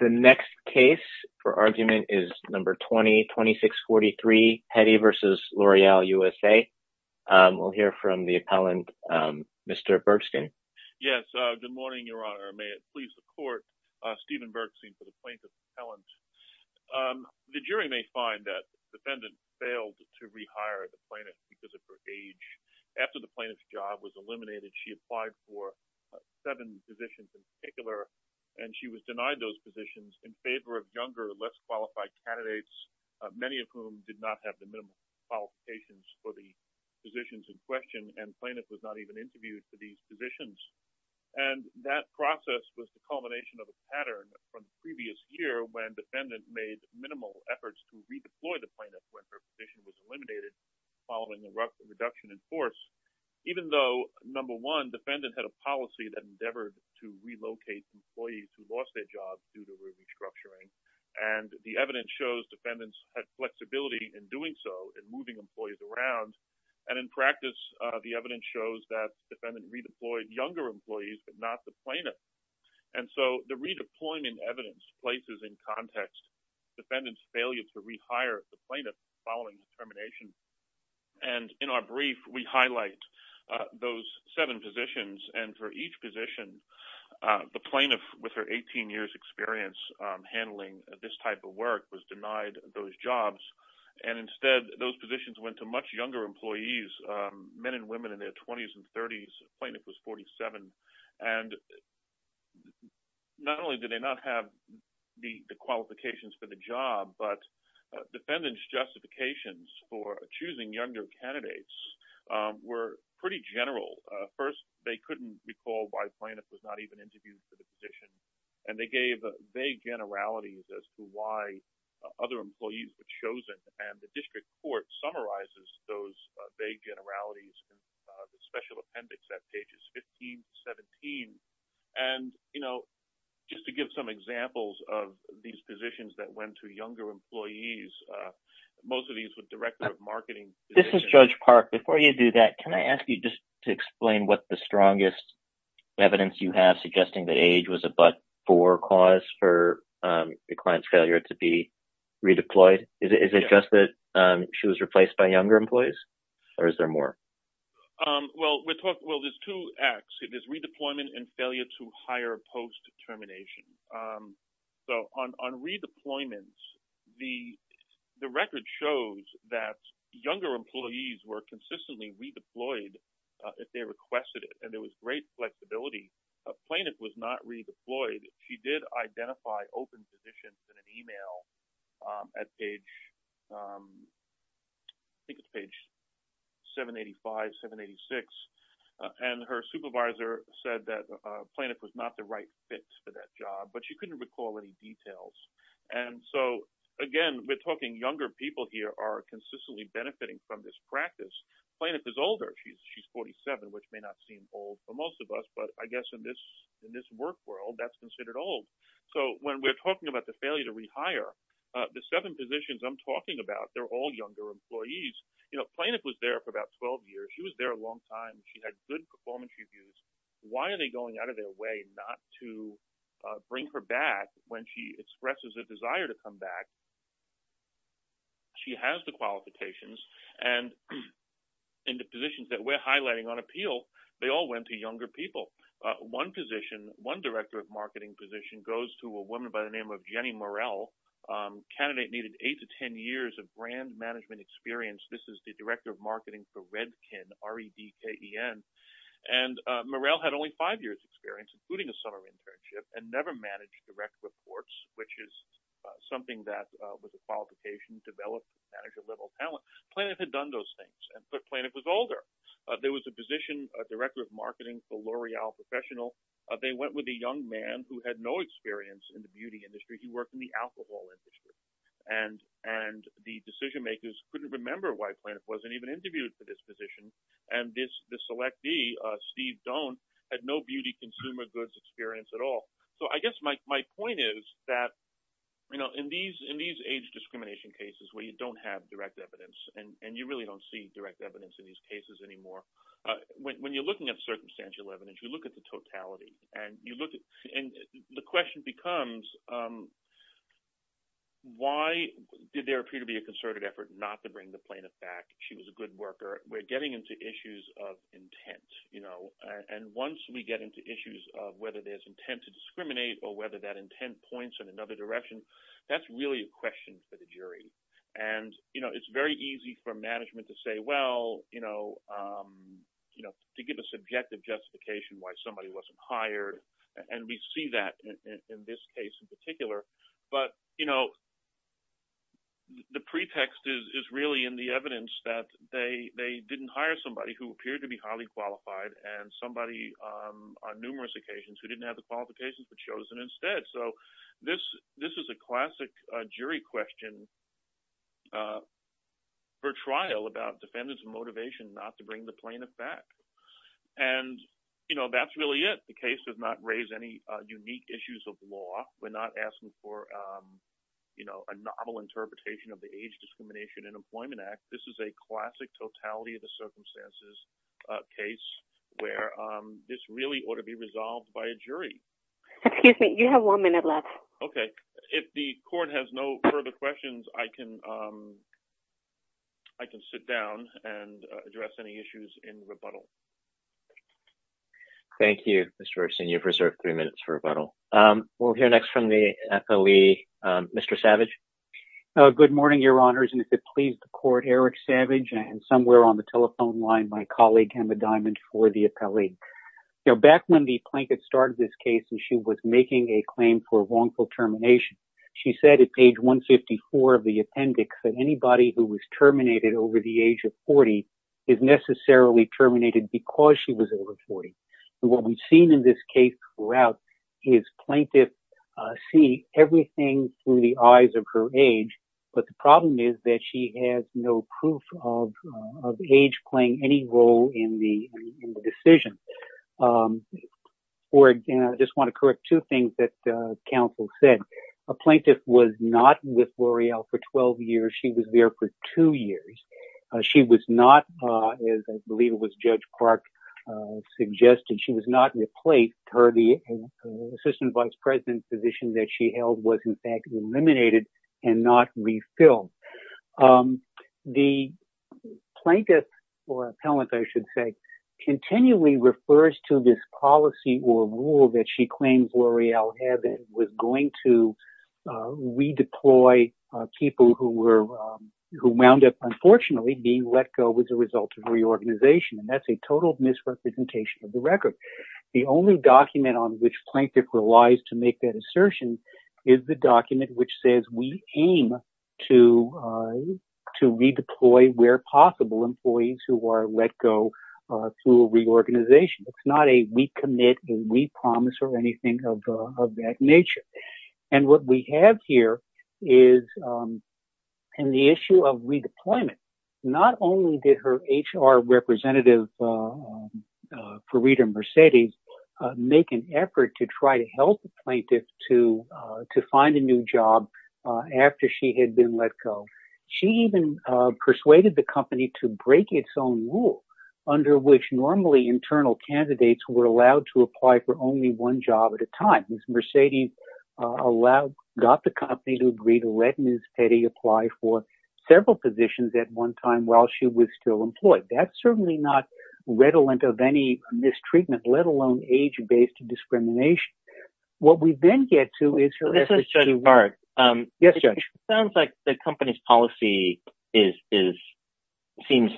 2643 Peddy v. L'Oreal USA, Inc. Good morning, Your Honor. May it please the Court, Stephen Bergstein for the Plaintiff's Appellant. The jury may find that the defendant failed to rehire the plaintiff because of her age. After the plaintiff's job was eliminated, she applied for seven positions in particular, and she was denied those positions in favor of younger, less qualified candidates, many of whom did not have the minimum qualifications for the positions in question, and the plaintiff was not even interviewed for these positions. And that process was the culmination of a pattern from the previous year when the defendant made minimal efforts to redeploy the plaintiff when her position was eliminated following the reduction in force, even though, number one, defendant had a policy that endeavored to relocate employees who lost their jobs due to restructuring, and the evidence shows defendants had flexibility in doing so, in moving employees around. And in practice, the evidence shows that defendant redeployed younger employees, but not the plaintiff. And so the redeployment evidence places in context defendant's failure to rehire the plaintiff following the termination, and in our brief, we highlight those seven positions, and for each position, the plaintiff, with her 18 years' experience handling this type of work, was denied those jobs, and instead those positions went to much younger employees, men and women in their 20s and 30s, the plaintiff was 47, and not only did they not have the qualifications for the job, but defendants' justifications for choosing younger candidates were pretty general. First, they couldn't recall why the plaintiff was not even interviewed for the position, and they gave vague generalities as to why other employees were chosen, and the district court summarizes those vague generalities in the special appendix at pages 15 and 17. And, you know, just to give some examples of these positions that went to younger employees, most of these were director of marketing positions. This is Judge Park. Before you do that, can I ask you just to explain what the strongest evidence you have suggesting that age was a but-for cause for the client's failure to be redeployed? Is it just that she was replaced by younger employees, or is there more? Well, there's two acts. It is redeployment and failure to hire post-determination. So on redeployment, the record shows that younger employees were consistently redeployed if they requested it, and there was great flexibility. The plaintiff was not redeployed. She did identify open positions in an email at page 785, 786, and her supervisor said that the plaintiff was not the right fit for that job, but she couldn't recall any details. And so, again, we're talking younger people here are consistently benefiting from this practice. The plaintiff is older. She's 47, which may not seem old for most of us, but I guess in this work world, that's considered old. So when we're talking about the failure to rehire, the seven positions I'm talking about, they're all younger employees. The plaintiff was there for about 12 years. She was there a long time. She had good performance reviews. Why are they going out of their way not to bring her back when she expresses a desire to come back? She has the qualifications. And in the positions that we're highlighting on appeal, they all went to younger people. One position, one director of marketing position, goes to a woman by the name of Jenny Morell, a candidate needed eight to ten years of brand management experience. This is the director of marketing for Redken, R-E-D-K-E-N. And Morell had only five years' experience, including a summer internship, and never managed direct reports, which is something that, with the qualifications, you develop manager-level talent. Plaintiff had done those things, but plaintiff was older. There was a position, a director of marketing for L'Oreal Professional. They went with a young man who had no experience in the beauty industry. He worked in the alcohol industry. And the decision-makers couldn't remember why plaintiff wasn't even interviewed for this position, and this selectee, Steve Doan, had no beauty consumer goods experience at all. So I guess my point is that, you know, in these age discrimination cases where you don't have direct evidence and you really don't see direct evidence in these cases anymore, when you're looking at circumstantial evidence, you look at the totality, and the question becomes why did there appear to be a concerted effort not to bring the plaintiff back? She was a good worker. We're getting into issues of intent, you know, and once we get into issues of whether there's intent to discriminate or whether that intent points in another direction, that's really a question for the jury. And, you know, it's very easy for management to say, well, you know, to give a subjective justification why somebody wasn't hired, and we see that in this case in particular. But, you know, the pretext is really in the evidence that they didn't hire somebody who appeared to be highly qualified and somebody on numerous occasions who didn't have the qualifications but chosen instead. So this is a classic jury question for trial about defendants' motivation not to bring the plaintiff back. And, you know, that's really it. The case does not raise any unique issues of law. We're not asking for, you know, a novel interpretation of the Age Discrimination and Employment Act. This is a classic totality of the circumstances case where this really ought to be resolved by a jury. Excuse me. You have one minute left. Okay. If the court has no further questions, I can sit down and address any issues in the rebuttal. Thank you, Mr. Erickson. You've reserved three minutes for rebuttal. We'll hear next from the FOE, Mr. Savage. Good morning, Your Honors, and if it pleases the court, Erick Savage, and somewhere on the telephone line, my colleague Emma Diamond for the appellee. Now, back when the plaintiff started this case and she was making a claim for wrongful termination, she said at page 154 of the appendix that anybody who was terminated over the age of 40 is necessarily terminated because she was over 40. What we've seen in this case throughout is plaintiffs see everything through the eyes of her age, but the problem is that she has no proof of age playing any role in the decision. I just want to correct two things that counsel said. A plaintiff was not with L'Oreal for 12 years. She was there for two years. She was not, as I believe it was Judge Clark suggested, she was not replaced. The assistant vice president position that she held was, in fact, eliminated and not refilled. The plaintiff or appellant, I should say, continually refers to this policy or rule that she claims L'Oreal had and was going to redeploy people who wound up, unfortunately, being let go as a result of reorganization. That's a total misrepresentation of the record. The only document on which plaintiff relies to make that assertion is the document which says we aim to redeploy, where possible, employees who are let go through a reorganization. It's not a we commit, a we promise or anything of that nature. And what we have here is the issue of redeployment. Not only did her HR representative, Farida Mercedes, make an effort to try to help the plaintiff to find a new job after she had been let go. She even persuaded the company to break its own rule under which normally internal candidates were allowed to apply for only one job at a time. Mercedes got the company to agree to let Ms. Petty apply for several positions at one time while she was still employed. That's certainly not redolent of any mistreatment, let alone age-based discrimination. What we then get to is. This is Jody Barrett. Yes, Judge. It sounds like the company's policy is, seems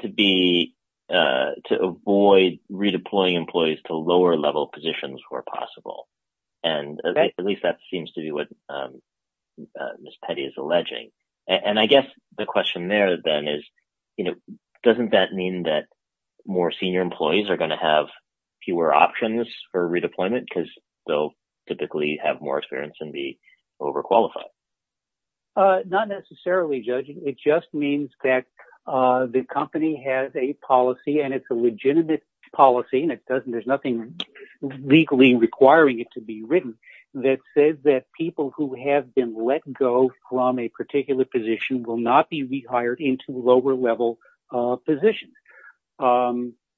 to be to avoid redeploying employees to lower level positions where possible. And at least that seems to be what Ms. Petty is alleging. And I guess the question there, then, is, you know, doesn't that mean that more senior employees are going to have fewer options for redeployment because they'll typically have more experience and be overqualified? Not necessarily, Judge. It just means that the company has a policy and it's a legitimate policy. There's nothing legally requiring it to be written that says that people who have been let go from a particular position will not be rehired into lower level positions.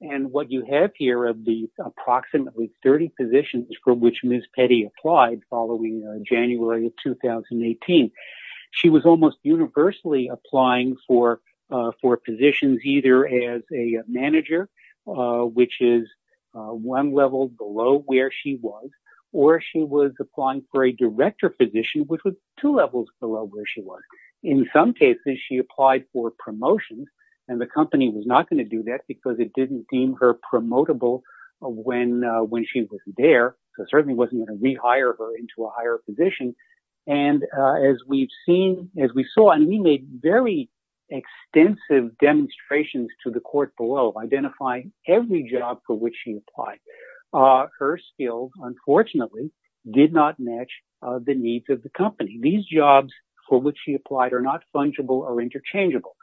And what you have here are the approximately 30 positions from which Ms. Petty applied following January of 2018. She was almost universally applying for positions either as a manager, which is one level below where she was, or she was applying for a director position, which was two levels below where she was. In some cases, she applied for promotions and the company was not going to do that because it didn't deem her promotable when she was there. It certainly wasn't going to rehire her into a higher position. And as we've seen, as we saw, and we made very extensive demonstrations to the court below identifying every job for which she applied. Her skills, unfortunately, did not match the needs of the company. These jobs for which she applied are not fungible or interchangeable.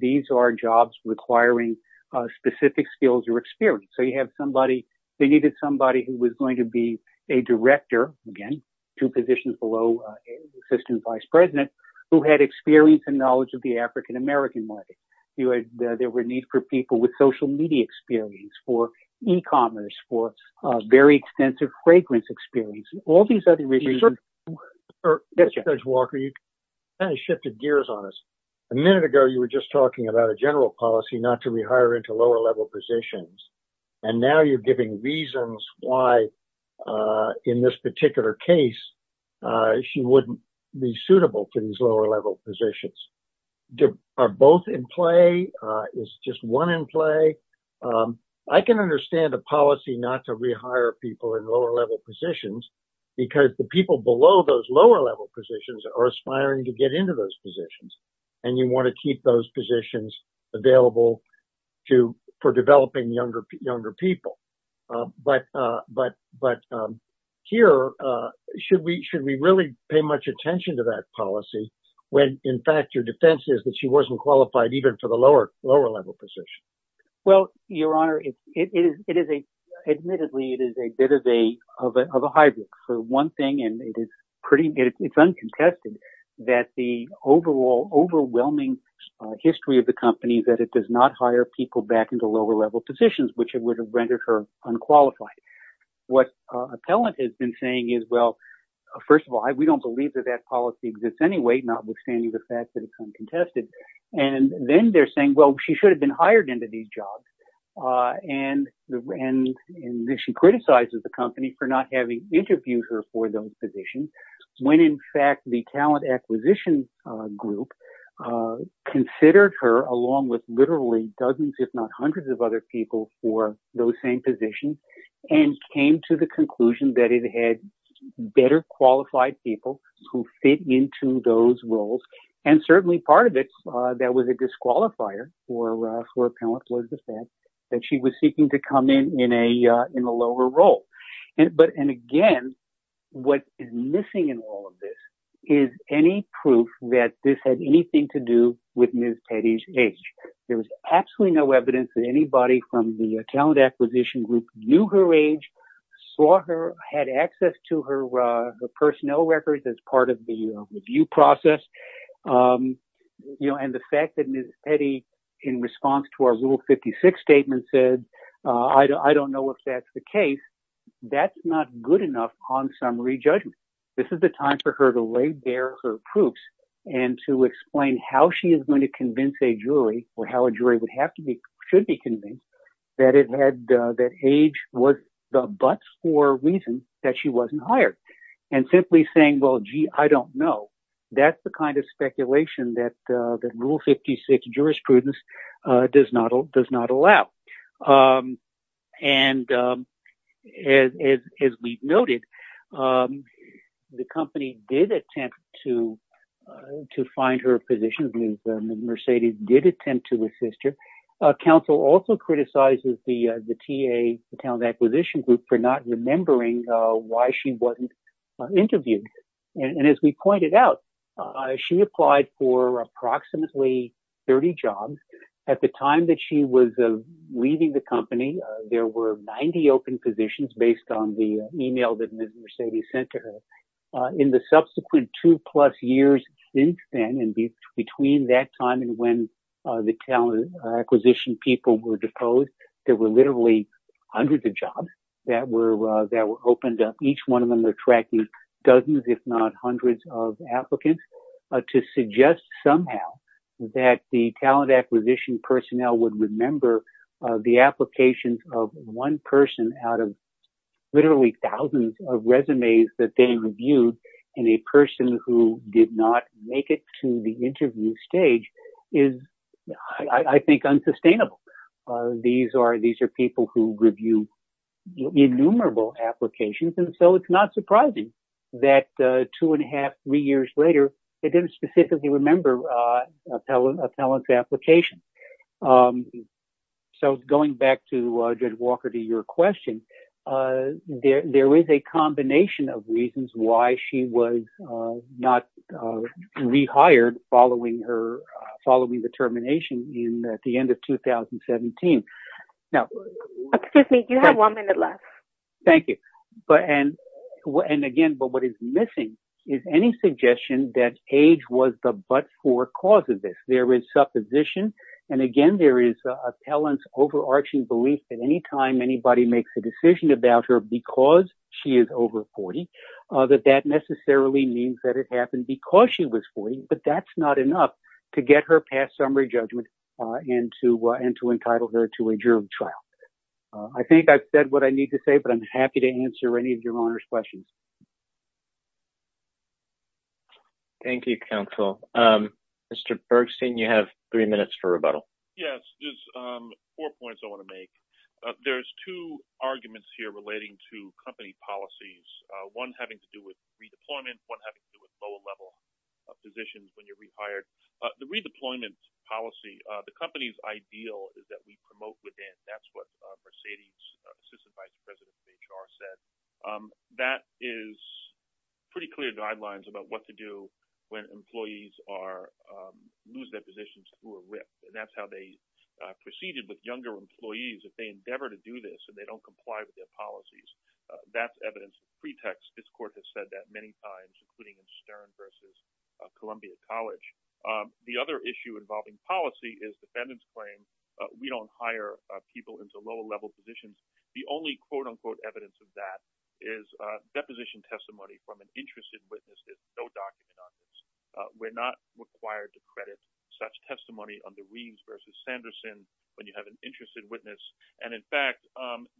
These are jobs requiring specific skills or experience. So you have somebody, they needed somebody who was going to be a director, again, two positions below assistant vice president, who had experience and knowledge of the African-American market. There were needs for people with social media experience, for e-commerce, for very extensive fragrance experience, all these other reasons. Judge Walker, you kind of shifted gears on us. A minute ago, you were just talking about a general policy not to rehire into lower level positions. And now you're giving reasons why in this particular case, she wouldn't be suitable for these lower level positions. Are both in play? Is just one in play? I can understand a policy not to rehire people in lower level positions because the people below those lower level positions are aspiring to get into those positions. And you want to keep those positions available for developing younger people. But here, should we really pay much attention to that policy when, in fact, your defense is that she wasn't qualified even for the lower level position? Well, Your Honor, admittedly, it is a bit of a hybrid for one thing, and it's uncontested that the overall overwhelming history of the company that it does not hire people back into lower level positions, which would have rendered her unqualified. What appellant has been saying is, well, first of all, we don't believe that that policy exists anyway, notwithstanding the fact that it's uncontested. And then they're saying, well, she should have been hired into these jobs. And she criticizes the company for not having interviewed her for those positions when, in fact, the talent acquisition group considered her along with literally dozens, if not hundreds of other people for those same positions and came to the conclusion that it had better qualified people who fit into those roles. And certainly part of it that was a disqualifier for appellant was the fact that she was seeking to come in in a lower role. And again, what is missing in all of this is any proof that this had anything to do with Ms. Petty's age. There was absolutely no evidence that anybody from the talent acquisition group knew her age, saw her, had access to her personnel records as part of the review process. And the fact that Ms. Petty, in response to our Rule 56 statement, said, I don't know if that's the case, that's not good enough on summary judgment. This is the time for her to lay bare her proofs and to explain how she is going to convince a jury or how a jury would have to be should be convinced that it had that age was the buts for reasons that she wasn't hired and simply saying, well, gee, I don't know. That's the kind of speculation that that Rule 56 jurisprudence does not does not allow. And as we've noted, the company did attempt to to find her a position. Mercedes did attempt to assist her. Council also criticizes the TA, the talent acquisition group, for not remembering why she wasn't interviewed. And as we pointed out, she applied for approximately 30 jobs at the time that she was leaving the company. There were 90 open positions based on the email that Mercedes sent to her in the subsequent two plus years since then. And between that time and when the talent acquisition people were deposed, there were literally hundreds of jobs that were that were opened up. dozens, if not hundreds of applicants to suggest somehow that the talent acquisition personnel would remember the applications of one person out of literally thousands of resumes that they reviewed in a person who did not make it to the interview stage is, I think, unsustainable. These are these are people who review innumerable applications. And so it's not surprising that two and a half, three years later, they didn't specifically remember a talent application. So going back to Judge Walker, to your question, there is a combination of reasons why she was not rehired following her following the termination in the end of 2017. Excuse me, you have one minute left. I think I've said what I need to say, but I'm happy to answer any of your questions. Thank you, counsel. Mr. Bergstein, you have three minutes for rebuttal. Yes, there's four points I want to make. There's two arguments here relating to company policies, one having to do with redeployment, one having to do with lower level positions when you're rehired. The redeployment policy, the company's ideal is that we promote within. That's what Mercedes, assistant vice president of HR, said. That is pretty clear guidelines about what to do when employees lose their positions through a rip. And that's how they proceeded with younger employees. If they endeavor to do this and they don't comply with their policies, that's evidence of pretext. This court has said that many times, including Stern versus Columbia College. The other issue involving policy is defendants claim we don't hire people into lower level positions. The only quote unquote evidence of that is deposition testimony from an interested witness. We're not required to credit such testimony on the Reeves versus Sanderson when you have an interested witness. And in fact,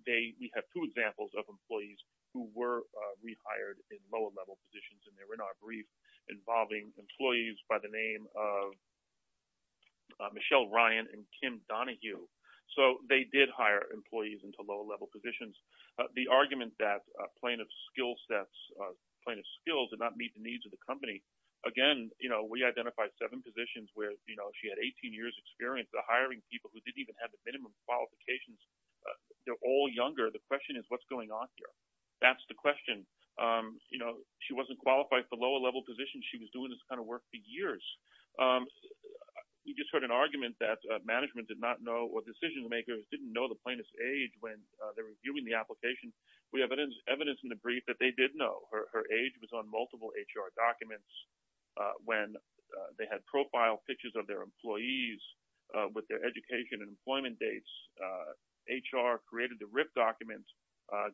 they have two examples of employees who were rehired in lower level positions. And they were not brief involving employees by the name of Michelle Ryan and Kim Donahue. So they did hire employees into lower level positions. The argument that plaintiff skill sets plaintiff skills did not meet the needs of the company. Again, you know, we identified seven positions where she had 18 years experience hiring people who didn't even have the minimum qualifications. They're all younger. The question is, what's going on here? That's the question. You know, she wasn't qualified for lower level positions. She was doing this kind of work for years. We just heard an argument that management did not know what decision makers didn't know the plaintiff's age when they're reviewing the application. We have evidence in the brief that they did know her age was on multiple HR documents. When they had profile pictures of their employees with their education and employment dates, HR created the RIP documents.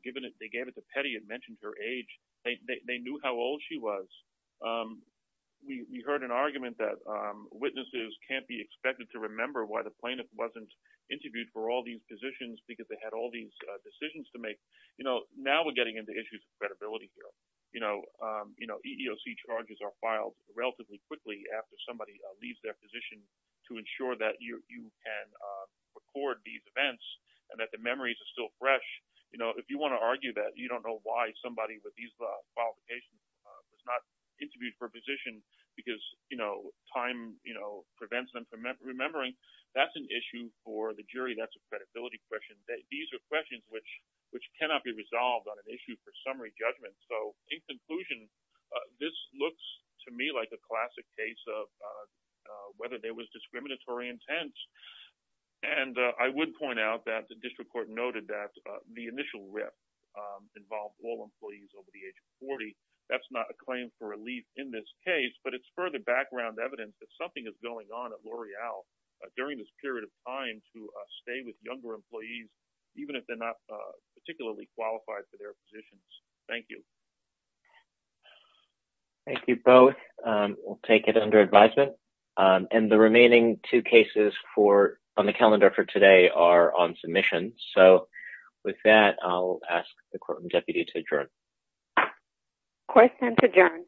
Given it, they gave it to Petty. It mentioned her age. They knew how old she was. We heard an argument that witnesses can't be expected to remember why the plaintiff wasn't interviewed for all these positions because they had all these decisions to make. You know, now we're getting into issues of credibility here. You know, you know, EEOC charges are filed relatively quickly after somebody leaves their position to ensure that you can record these events and that the memories are still fresh. You know, if you want to argue that you don't know why somebody with these qualifications was not interviewed for a position because, you know, time prevents them from remembering, that's an issue for the jury. That's a credibility question. These are questions which cannot be resolved on an issue for summary judgment. So in conclusion, this looks to me like a classic case of whether there was discriminatory intent. And I would point out that the district court noted that the initial RIP involved all employees over the age of 40. That's not a claim for relief in this case, but it's further background evidence that something is going on at L'Oreal during this period of time to stay with younger employees, even if they're not particularly qualified for their positions. Thank you. Thank you both. We'll take it under advisement. And the remaining two cases on the calendar for today are on submission. So with that, I'll ask the courtroom deputy to adjourn. Court is adjourned.